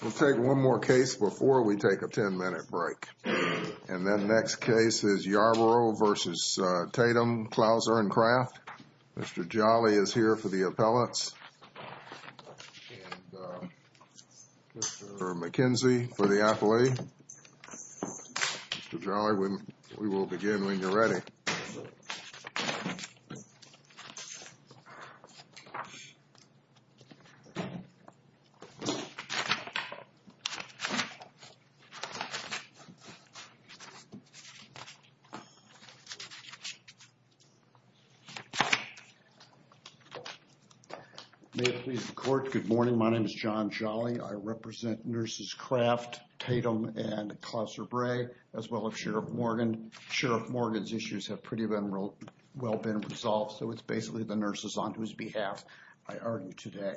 We'll take one more case before we take a 10-minute break. And that next case is Yarbrough v. Tatom, Clouser & Craft. Mr. Jolly is here for the appellants and Mr. McKenzie for the appellee. Mr. Jolly, we will begin when you're ready. May it please the Court, good morning. My name is John Jolly. I represent Nurses Craft, Tatom, and Clouser Bray, as well as Sheriff Morgan. And Sheriff Morgan's issues have pretty well been resolved, so it's basically the nurses on whose behalf I argue today.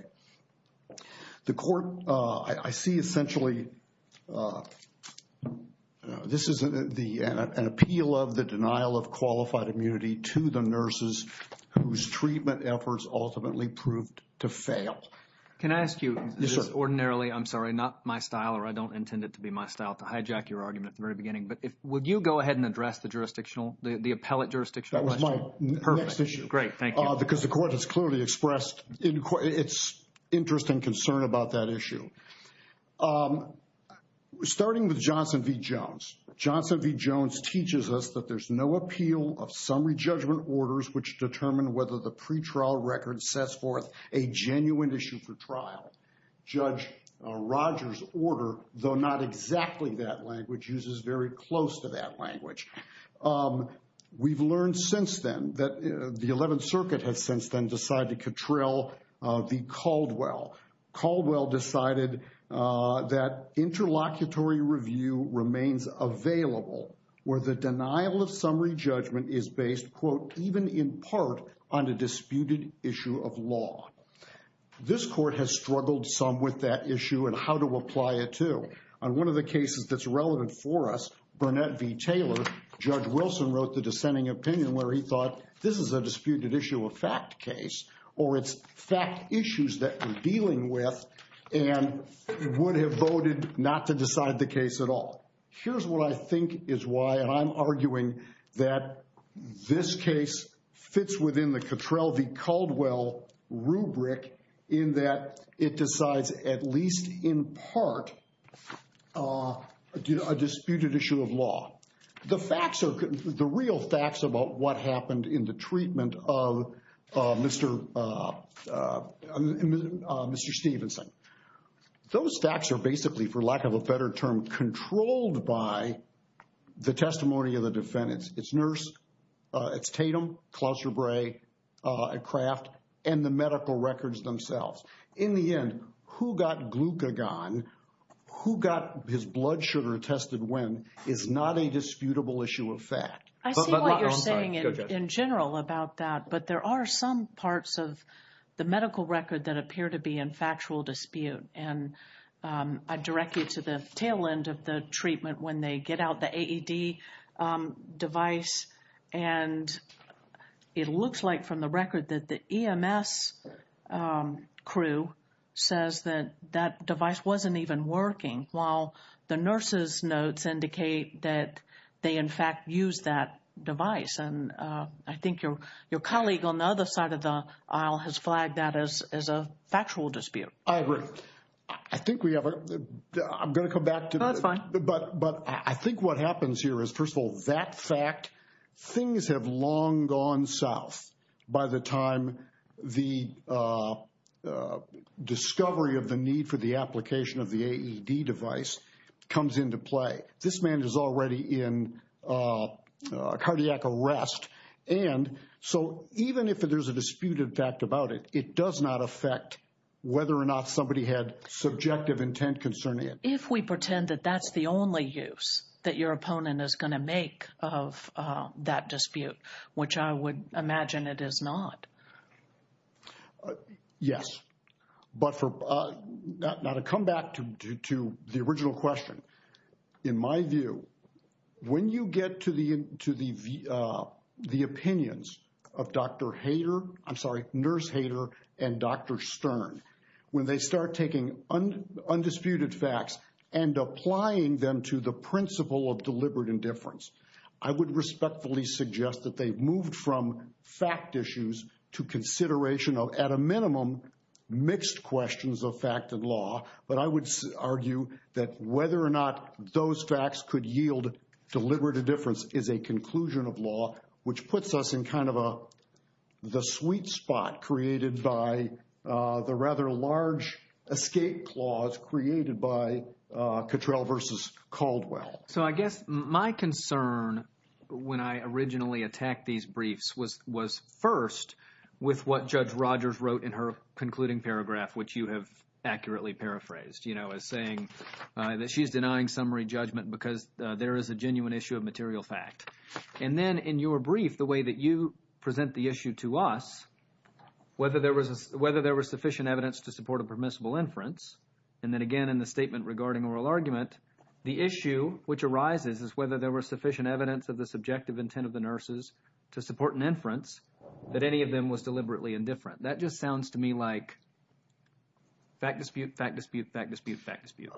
The Court, I see essentially, this is an appeal of the denial of qualified immunity to the nurses whose treatment efforts ultimately proved to fail. Can I ask you, ordinarily, I'm sorry, not my style, or I don't intend it to be my style to hijack your argument at the very beginning, but would you go ahead and address the jurisdictional, the appellate jurisdictional issue? That was my next issue. Perfect. Great. Thank you. Because the Court has clearly expressed its interest and concern about that issue. Starting with Johnson v. Jones, Johnson v. Jones teaches us that there's no appeal of summary judgment orders which determine whether the pretrial record sets forth a genuine issue for trial. Judge Roger's order, though not exactly that language, uses very close to that language. We've learned since then that the 11th Circuit has since then decided to control the Caldwell. Caldwell decided that interlocutory review remains available where the denial of summary judgment is based, quote, even in part on a disputed issue of law. This Court has struggled some with that issue and how to apply it to. On one of the cases that's relevant for us, Burnett v. Taylor, Judge Wilson wrote the dissenting opinion where he thought this is a disputed issue of fact case, or it's fact issues that we're dealing with, and would have voted not to decide the case at all. Here's what I think is why, and I'm arguing that this case fits within the Cottrell v. Kubrick in that it decides at least in part a disputed issue of law. The facts are, the real facts about what happened in the treatment of Mr. Stevenson, those facts are basically, for lack of a better term, controlled by the testimony of the defendants, its nurse, its Tatum, Klauser Bray, Kraft, and the medical records themselves. In the end, who got glucagon, who got his blood sugar tested when, is not a disputable issue of fact. I see what you're saying in general about that, but there are some parts of the medical record that appear to be in factual dispute, and I direct you to the tail end of the treatment when they get out the AED device, and it looks like from the record that the EMS crew says that that device wasn't even working, while the nurse's notes indicate that they, in fact, used that device, and I think your colleague on the other side of the aisle has flagged that as a factual dispute. I agree. I think we have a, I'm going to come back to that, but I think what happens here is, first of all, that fact, things have long gone south by the time the discovery of the need for the application of the AED device comes into play. This man is already in cardiac arrest, and so even if there's a disputed fact about it, it does not affect whether or not somebody had subjective intent concerning it. If we pretend that that's the only use that your opponent is going to make of that dispute, which I would imagine it is not. Yes, but for, now to come back to the original question, in my view, when you get to the and Dr. Stern, when they start taking undisputed facts and applying them to the principle of deliberate indifference, I would respectfully suggest that they've moved from fact issues to consideration of, at a minimum, mixed questions of fact and law, but I would argue that whether or not those facts could yield deliberate indifference is a conclusion of law, which by the rather large escape clause created by Cottrell versus Caldwell. So I guess my concern when I originally attacked these briefs was first with what Judge Rogers wrote in her concluding paragraph, which you have accurately paraphrased, as saying that she's denying summary judgment because there is a genuine issue of material fact. And then in your brief, the way that you present the issue to us, whether there was sufficient evidence to support a permissible inference, and then again in the statement regarding oral argument, the issue which arises is whether there was sufficient evidence of the subjective intent of the nurses to support an inference that any of them was deliberately indifferent. That just sounds to me like fact dispute, fact dispute, fact dispute, fact dispute.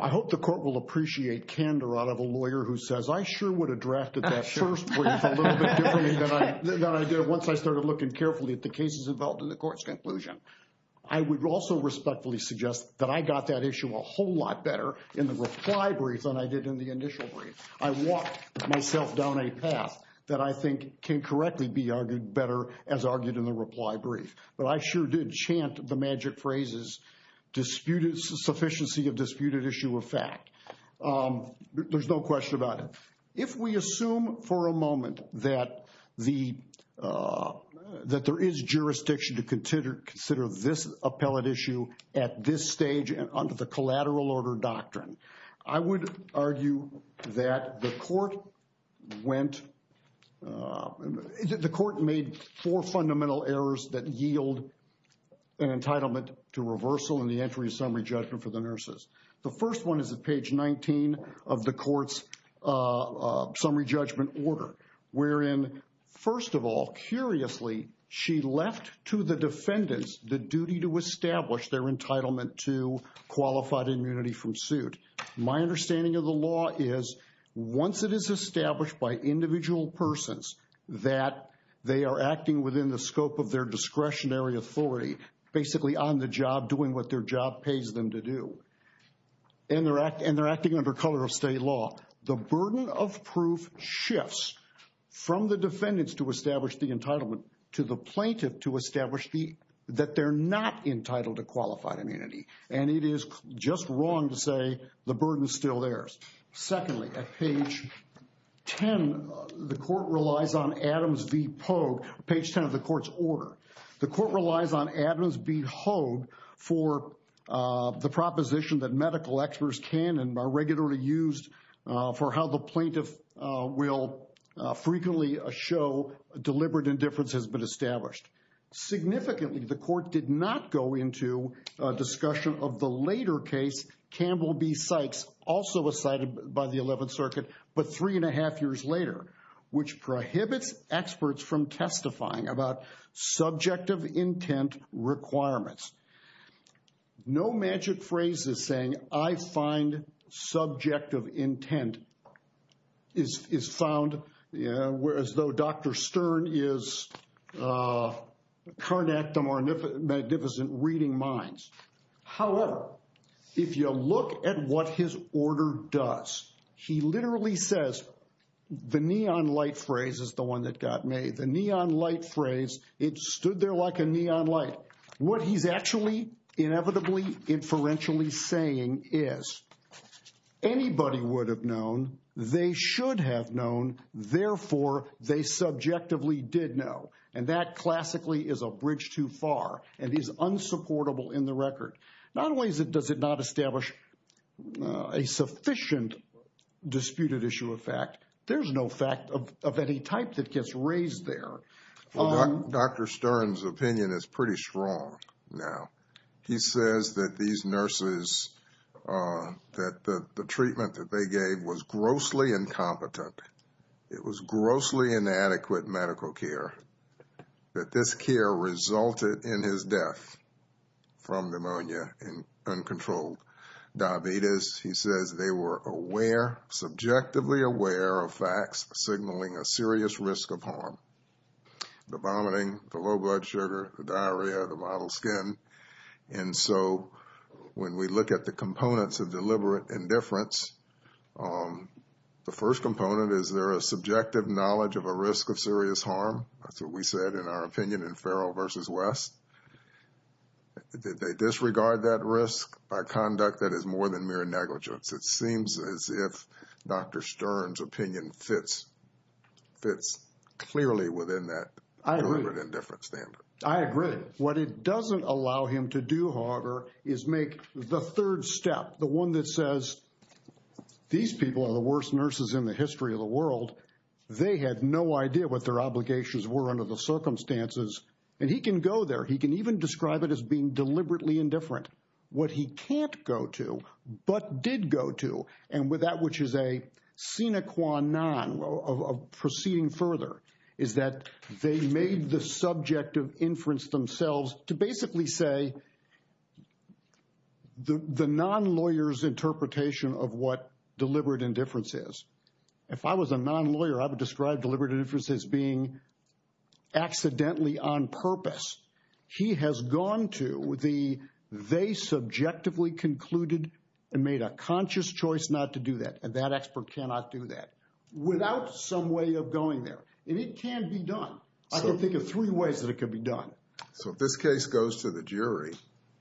I hope the court will appreciate candor out of a lawyer who says, I sure would have drafted that first brief a little bit differently than I did once I started looking carefully at the cases involved in the court's conclusion. I would also respectfully suggest that I got that issue a whole lot better in the reply brief than I did in the initial brief. I walked myself down a path that I think can correctly be argued better as argued in the disputed issue of fact. There's no question about it. If we assume for a moment that there is jurisdiction to consider this appellate issue at this stage and under the collateral order doctrine, I would argue that the court made four fundamental errors that yield an entitlement to reversal in the entry of summary judgment for the nurses. The first one is at page 19 of the court's summary judgment order, wherein first of all, curiously, she left to the defendants the duty to establish their entitlement to qualified immunity from suit. My understanding of the law is once it is established by individual persons that they are acting within the scope of their discretionary authority, basically on the job, doing what their job pays them to do. And they're acting under color of state law. The burden of proof shifts from the defendants to establish the entitlement, to the plaintiff to establish that they're not entitled to qualified immunity. And it is just wrong to say the burden is still theirs. Secondly, at page 10, the court relies on Adams v. Pogue, page 10 of the court's order. The court relies on Adams v. Pogue for the proposition that medical experts can and are regularly used for how the plaintiff will frequently show deliberate indifference has been established. Significantly, the court did not go into a discussion of the psychs also was cited by the 11th Circuit, but three and a half years later, which prohibits experts from testifying about subjective intent requirements. No magic phrase is saying I find subjective intent is found, whereas though Dr. Stern is carnectum or does. He literally says the neon light phrase is the one that got made the neon light phrase. It stood there like a neon light. What he's actually inevitably inferentially saying is anybody would have known they should have known. Therefore, they subjectively did know. And that classically is a bridge too far and is unsupportable in the record. Not only does it not establish a sufficient disputed issue of fact, there's no fact of any type that gets raised there. Dr. Stern's opinion is pretty strong now. He says that these nurses, that the treatment that they gave was grossly incompetent. It was grossly inadequate medical care. That this care resulted in his death from pneumonia and uncontrolled diabetes. He says they were aware, subjectively aware of facts signaling a serious risk of harm. The vomiting, the low blood sugar, the diarrhea, the mottled skin. And so when we look at the components of deliberate indifference, the first component, is there a subjective knowledge of a risk of serious harm? That's what we said in our opinion in Farrell versus West. They disregard that risk by conduct that is more than mere negligence. It seems as if Dr. Stern's opinion fits clearly within that deliberate indifference standard. I agree. What it doesn't allow him to do, however, is make the third step. The one that says, these people are the worst nurses in the history of the world. They had no idea what their obligations were under the circumstances. And he can go there. He can even describe it as being deliberately indifferent. What he can't go to, but did go to, and with that which is a sine qua non of proceeding further, is that they made the subjective inference themselves to basically say the non-lawyer's interpretation of what deliberate indifference is. If I was a non-lawyer, I would describe deliberate indifference as being accidentally on purpose. He has gone to the they subjectively concluded and made a conscious choice not to do that. And that expert cannot do that without some way of going there. And it can be done. I can think of three ways that it can be done. So if this case goes to the jury,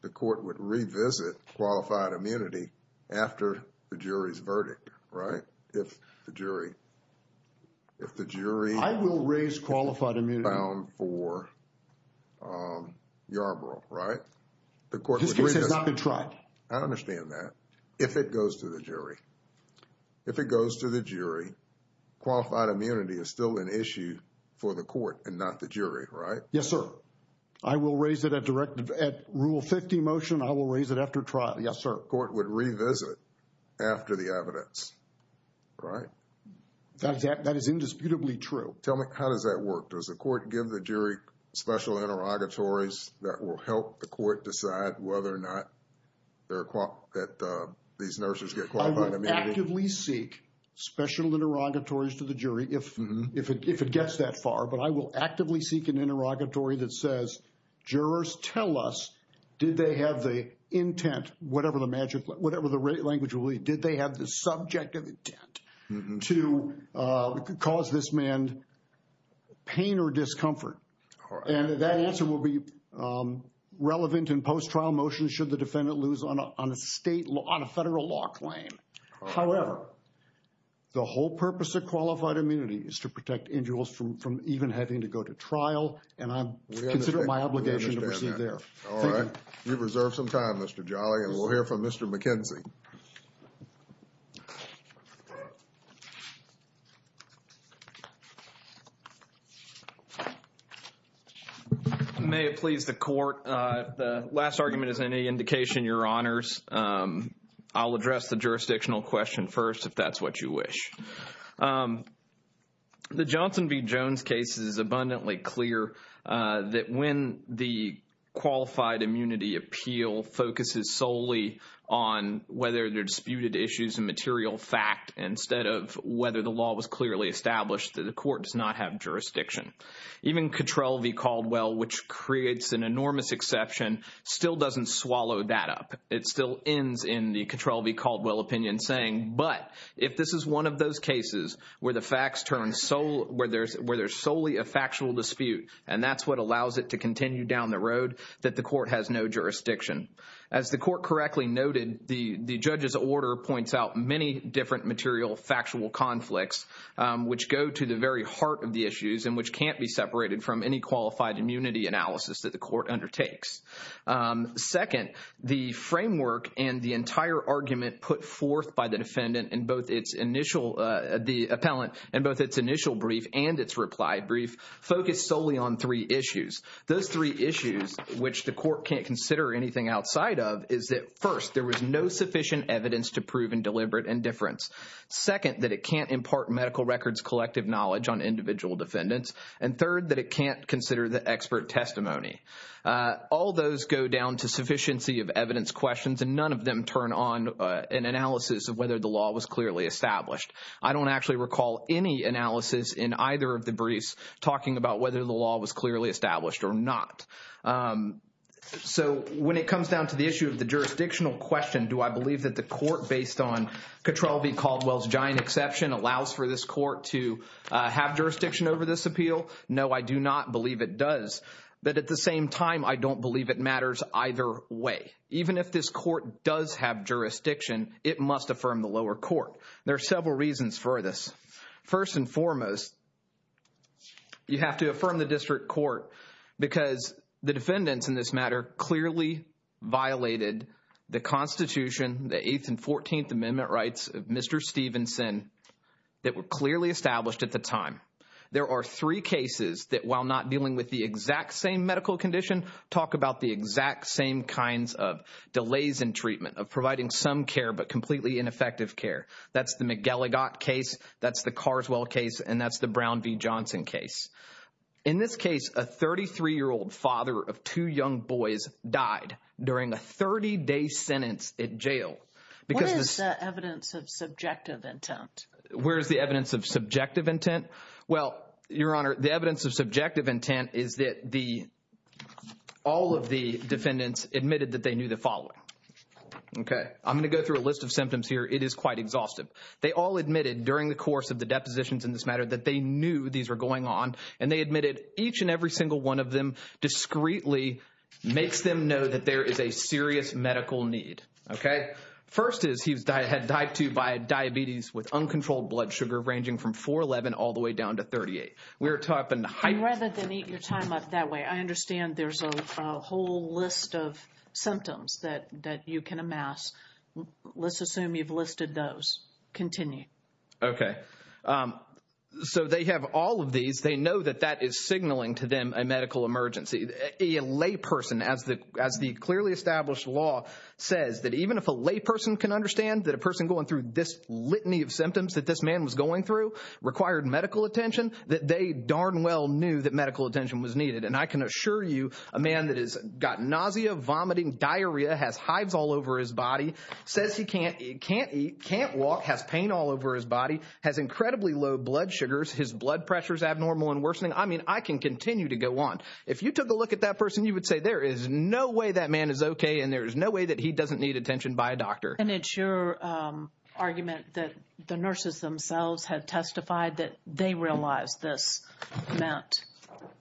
the court would revisit qualified immunity after the jury's verdict, right? If the jury- I will raise qualified immunity. Bound for Yarborough, right? The court would- This case has not been tried. I understand that. If it goes to the jury, qualified immunity is still an issue for the court and not the jury, right? Yes, sir. I will raise it at rule 50 motion. I will raise it after trial. Yes, sir. The court would revisit after the evidence, right? That is indisputably true. Tell me, how does that work? Does the court give the jury special interrogatories that will help the court decide whether or not these nurses get qualified immunity? I would actively seek special interrogatories to the jury if it gets that far. But I will actively seek an interrogatory that says, jurors tell us, did they have the intent, whatever the language will be, did they have the subjective intent to cause this man pain or discomfort? And that answer will be relevant in post-trial motions should the defendant lose on a federal law claim. However, the whole purpose of qualified immunity is to protect individuals from even having to go to trial. And I consider it my obligation to proceed there. All right. You've reserved some time, Mr. Jolly, and we'll hear from Mr. McKenzie. May it please the court. The last argument is any indication, your honors. I'll address the jurisdictional question first, if that's what you wish. The Johnson v. Jones case is abundantly clear that when the qualified immunity appeal focuses solely on whether they're disputed issues and material fact instead of whether the law was clearly established, that the court does not have jurisdiction. Even Cattrall v. Caldwell, which creates an enormous exception, still doesn't swallow that up. It still ends in the Cattrall v. Caldwell opinion saying, but if this is one of those cases where there's solely a factual dispute and that's what allows it to continue down the road, that the court has no jurisdiction. As the court correctly noted, the judge's order points out many different material factual conflicts, which go to the very heart of the issues and which can't be separated from any qualified immunity analysis that the court undertakes. Second, the framework and the entire argument put forth by the defendant and both its initial, the appellant, and both its initial brief and its reply brief focus solely on three issues. Those three issues, which the court can't consider anything outside of, is that first, there was no sufficient evidence to prove in deliberate indifference. Second, that it can't impart medical records collective knowledge on individual defendants. And third, that it can't consider the expert testimony. All those go down to sufficiency of evidence questions and none of them turn on an analysis of whether the law was clearly established. I don't actually recall any analysis in either of the briefs talking about whether the law was clearly established or not. So when it comes down to the issue of the jurisdictional question, do I believe that the court, based on Cattralvi Caldwell's giant exception, allows for this court to have jurisdiction over this appeal? No, I do not believe it does. But at the same time, I don't believe it matters either way. Even if this court does have jurisdiction, it must affirm the lower court. There are several reasons for this. First and foremost, you have to affirm the district court because the defendants in this matter clearly violated the Constitution, the 8th and 14th Amendment rights of Mr. Stevenson that were clearly established at the time. There are three cases that, while not dealing with the exact same medical condition, talk about the exact same kinds of delays in treatment, of providing some care, but completely ineffective care. That's the McGilligott case, that's the Carswell case, and that's the Brown v. Johnson case. In this case, a 33-year-old father of two young boys died during a 30-day sentence at jail. What is the evidence of subjective intent? Where's the evidence of subjective intent? Well, Your Honor, the evidence of subjective intent is that all of the defendants admitted that they knew the following. Okay, I'm going to go through a list of symptoms here. It is quite exhaustive. They all admitted during the course of the depositions in this matter that they knew these were going on, and they admitted each and every single one of them discreetly makes them know that there is a serious medical need, okay? First is he had died to you by diabetes with uncontrolled blood sugar ranging from 4-11 all the way down to 38. We are talking high... And rather than eat your time up that way, I understand there's a whole list of symptoms that you can amass. Let's assume you've listed those. Continue. Okay, so they have all of these. They know that that is signaling to them a medical emergency. A layperson, as the clearly established law says, that even if a layperson can understand that a person going through this litany of symptoms that this man was going through required medical attention, that they darn well knew that medical attention was needed. And I can assure you a man that has got nausea, vomiting, diarrhea, has hives all over his body, says he can't eat, can't walk, has pain all over his body, has incredibly low blood sugars, his blood pressure is abnormal and worsening. I mean, I can continue to go on. If you took a look at that person, you would say there is no way that man is okay, and there is no way that he doesn't need attention by a doctor. And it's your argument that the nurses themselves have testified that they realized this meant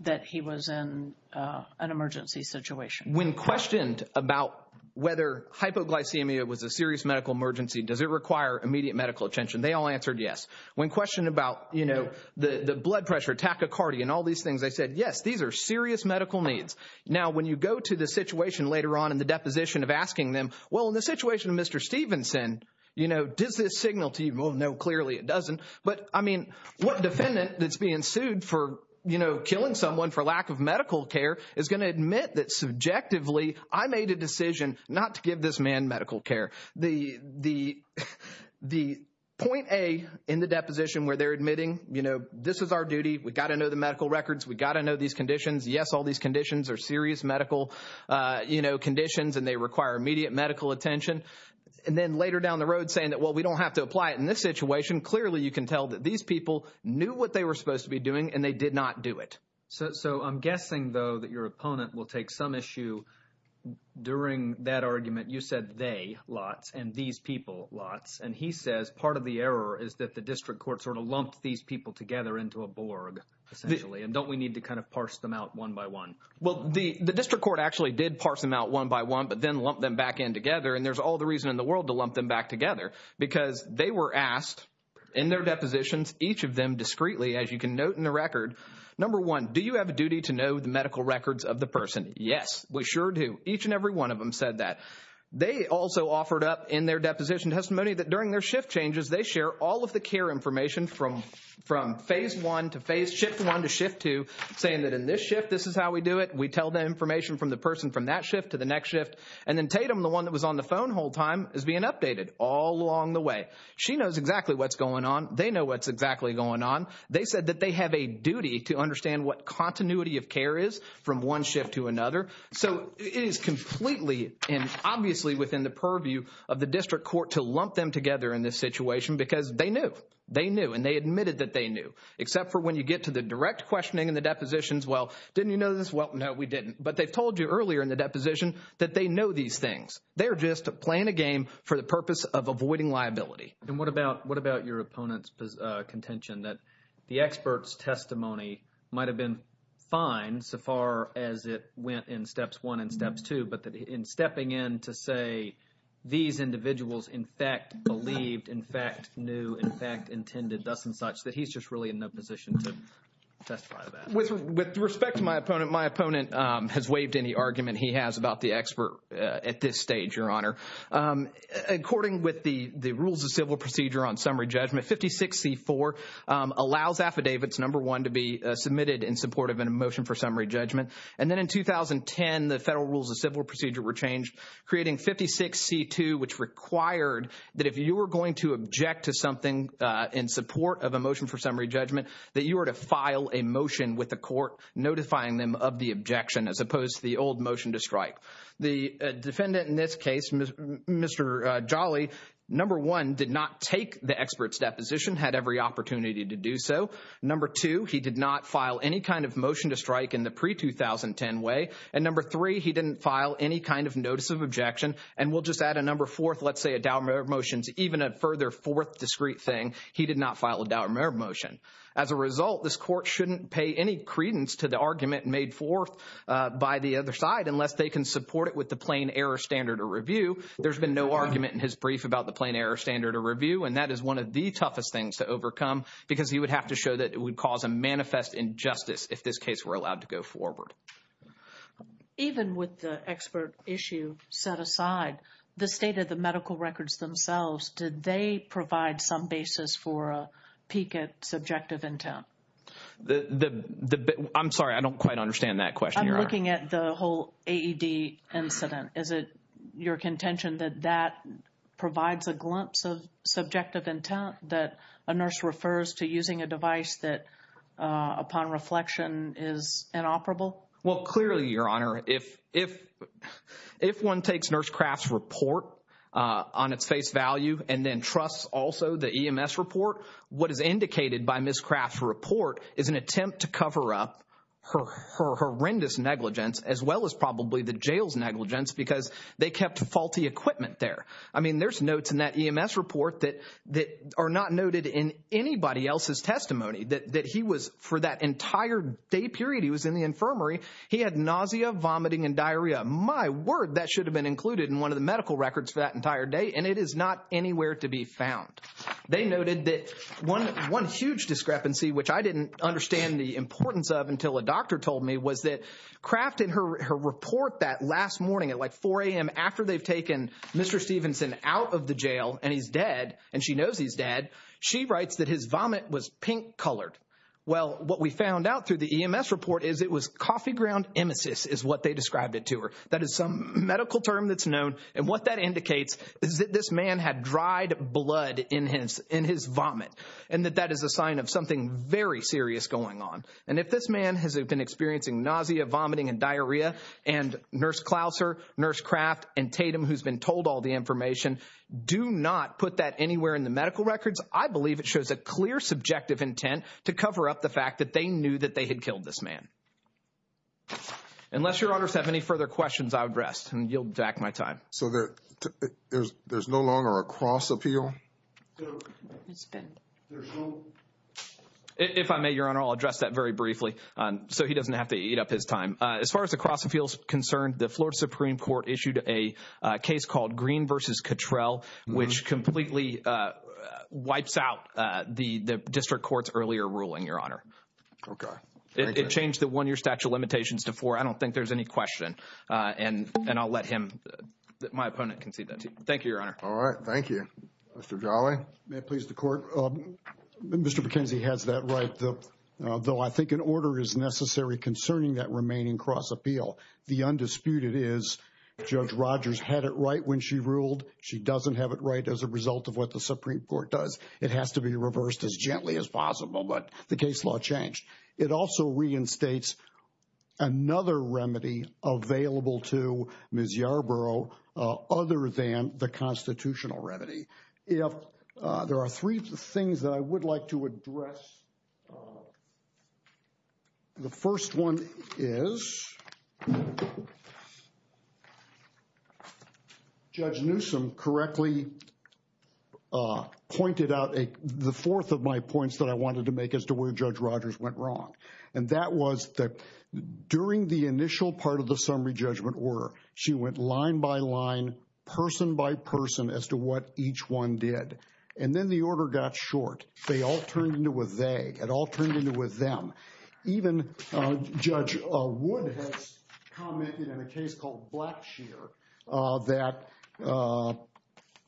that he was in an emergency situation. When questioned about whether hypoglycemia was a serious medical emergency, does it require immediate medical attention? They all answered yes. When questioned about the blood pressure, tachycardia, and all these things, they said, yes, these are serious medical needs. Now, when you go to the situation later on in the deposition of asking them, well, in the situation of Mr. Stevenson, does this signal to you? Well, no, clearly it doesn't. But I mean, what defendant that's being sued for killing someone for lack of medical care is going to admit that subjectively, I made a decision not to give this man medical care. The point A in the deposition where they're admitting, you know, this is our duty, we've got to know the medical records, we've got to know these conditions. Yes, all these conditions are serious medical, you know, conditions, and they require immediate medical attention. And then later down the road saying that, well, we don't have to apply it in this situation. Clearly, you can tell that these people knew what they were supposed to be doing, and they did not do it. So I'm guessing, though, that your opponent will take some issue during that argument. You said they, lots, and these people, lots. And he says part of the error is that the district court sort of lumped these people together into a borg, essentially. And don't we need to kind of parse them out one by one? Well, the district court actually did parse them out one by one, but then lumped them back in together. And there's all the reason in the world to lump them back together, because they were asked in their depositions, each of them discreetly, as you can note in the record, number one, do you have a duty to know the medical records of the person? Yes, we sure do. Each and every one of them said that. They also offered up in their deposition testimony that during their shift changes, they share all of the care information from phase one to phase, shift one to shift two, saying that in this shift, this is how we do it. We tell the information from the person from that shift to the next shift. And then Tatum, the one that was on the phone whole time, is being updated all along the way. She knows exactly what's going on. They know what's exactly going on. They said that they have a duty to understand what continuity of care is from one shift to another. So it is completely and obviously within the purview of the district court to lump them together in this situation, because they knew, they knew, and they admitted that they knew. Except for when you get to the direct questioning in the depositions, well, didn't you know this? Well, no, we didn't. But they've told you earlier in the deposition that they know these things. They're just playing a game for the purpose of avoiding liability. And what about your opponent's contention that the expert's testimony might have been fine so far as it went in steps one and steps two, but that in stepping in to say these individuals in fact believed, in fact knew, in fact intended thus and such, that he's just really in no position to testify to that? With respect to my opponent, my opponent has waived any argument he has about the expert at this stage, Your Honor. According with the submitted in support of a motion for summary judgment. And then in 2010, the federal rules of civil procedure were changed, creating 56C2, which required that if you were going to object to something in support of a motion for summary judgment, that you were to file a motion with the court notifying them of the objection as opposed to the old motion to strike. The defendant in this case, Mr. Jolly, number one, did not take the expert's deposition, had every opportunity to do so. Number two, he did not file any kind of motion to strike in the pre-2010 way. And number three, he didn't file any kind of notice of objection. And we'll just add a number fourth, let's say a doubt of motions, even a further fourth discreet thing, he did not file a doubt of motion. As a result, this court shouldn't pay any credence to the argument made forth by the other side unless they can support it with the plain error standard of review. There's been no argument in his brief about the plain error standard of review. And that is one of the toughest things to overcome because he would have to show that it would cause a manifest injustice if this case were allowed to go forward. Even with the expert issue set aside, the state of the medical records themselves, did they provide some basis for a peek at subjective intent? I'm sorry, I don't quite understand that question. I'm looking at the whole AED incident. Is it your contention that that provides a glimpse of that a nurse refers to using a device that upon reflection is inoperable? Well, clearly, Your Honor, if one takes Nurse Craft's report on its face value and then trusts also the EMS report, what is indicated by Ms. Craft's report is an attempt to cover up her horrendous negligence as well as probably the jail's negligence because they kept faulty equipment there. I mean, there's notes in that EMS report that are not noted in anybody else's testimony that he was, for that entire day period he was in the infirmary, he had nausea, vomiting and diarrhea. My word, that should have been included in one of the medical records for that entire day. And it is not anywhere to be found. They noted that one huge discrepancy, which I didn't understand the importance of until a doctor told me, was that Craft in her report that last morning at like 4 a.m. after they've taken Mr. Stevenson out of the jail, and he's dead, and she knows he's dead, she writes that his vomit was pink colored. Well, what we found out through the EMS report is it was coffee ground emesis is what they described it to her. That is some medical term that's known, and what that indicates is that this man had dried blood in his vomit, and that that is a sign of something very serious going on. And if this man has been experiencing nausea, vomiting and diarrhea, and Nurse Clouser, Nurse Craft and Tatum, who's been told all the information, do not put that anywhere in the medical records. I believe it shows a clear subjective intent to cover up the fact that they knew that they had killed this man. Unless your honors have any further questions, I would rest, and yield back my time. So there's no longer a cross appeal? If I may, your honor, I'll address that very briefly so he doesn't have to eat up his time. As far as the cross appeal is concerned, the Florida Supreme Court issued a case called Green v. Cottrell, which completely wipes out the district court's earlier ruling, your honor. It changed the one-year statute of limitations to four. I don't think there's any question, and I'll let him, my opponent, concede that. Thank you, your honor. All right, thank you. Mr. Jolly? May it please the court? Mr. McKenzie has that right, though I think an order is necessary concerning that remaining cross appeal. The undisputed is Judge Rogers had it right when she ruled. She doesn't have it right as a result of what the Supreme Court does. It has to be reversed as gently as possible, but the case law changed. It also reinstates another remedy available to Ms. Yarbrough other than the constitutional remedy. If there are three things that I would like to address, the first one is Judge Newsom correctly pointed out the fourth of my points that I wanted to make as to where Judge Rogers went wrong, and that was that during the initial part of the summary judgment order, she went line by line, person by person, as to what each one did, and then the order got short. They all turned into a they. It all turned into a them. Even Judge Wood has commented in a case called Blackshear that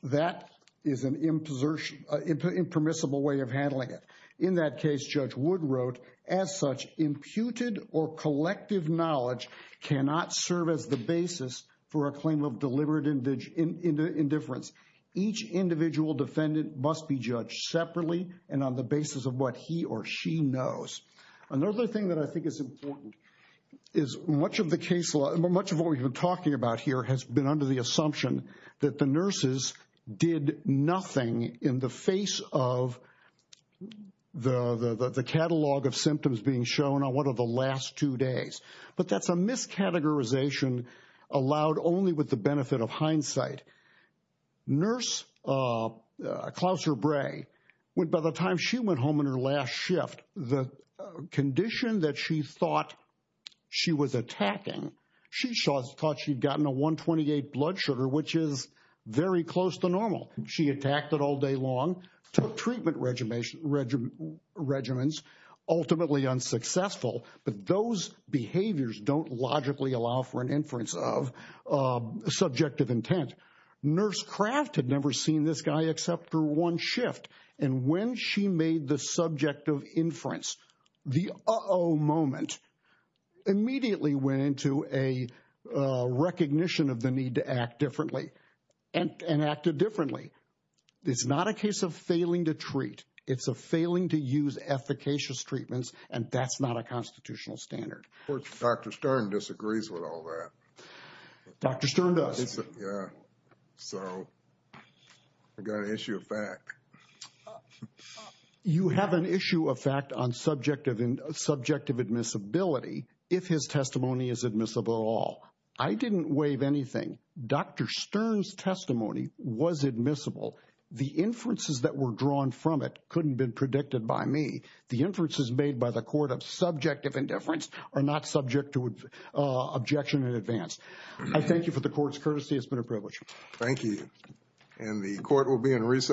that is an impermissible way of handling it. In that case, Judge Wood wrote, as such, imputed or collective knowledge cannot serve as the basis for a claim of deliberate indifference. Each individual defendant must be judged separately and on the basis of what he or she knows. Another thing that I think is important is much of the case law, much of what we've been talking about here has been under the assumption that the nurses did nothing in the face of the catalog of symptoms being shown on one of the last two days. But that's a miscategorization allowed only with the benefit of hindsight. Nurse Clouser Bray, by the time she went home in her last shift, the condition that she thought she was attacking, she thought she'd gotten a 128 blood sugar, which is very close to normal. She attacked it all day long, took treatment regimens, ultimately unsuccessful. But those behaviors don't logically allow for an inference of subjective intent. Nurse Craft had never seen this guy except for one shift. And when she made the act differently and acted differently, it's not a case of failing to treat. It's a failing to use efficacious treatments. And that's not a constitutional standard. Of course, Dr. Stern disagrees with all that. Dr. Stern does. Yeah. So I got an issue of fact. You have an issue of fact on subjective and subjective admissibility if his testimony is admissible at all. I didn't waive anything. Dr. Stern's testimony was admissible. The inferences that were drawn from it couldn't have been predicted by me. The inferences made by the court of subjective indifference are not subject to objection in advance. I thank you for the court's courtesy. It's been a privilege. Thank you. And the court will be in recess.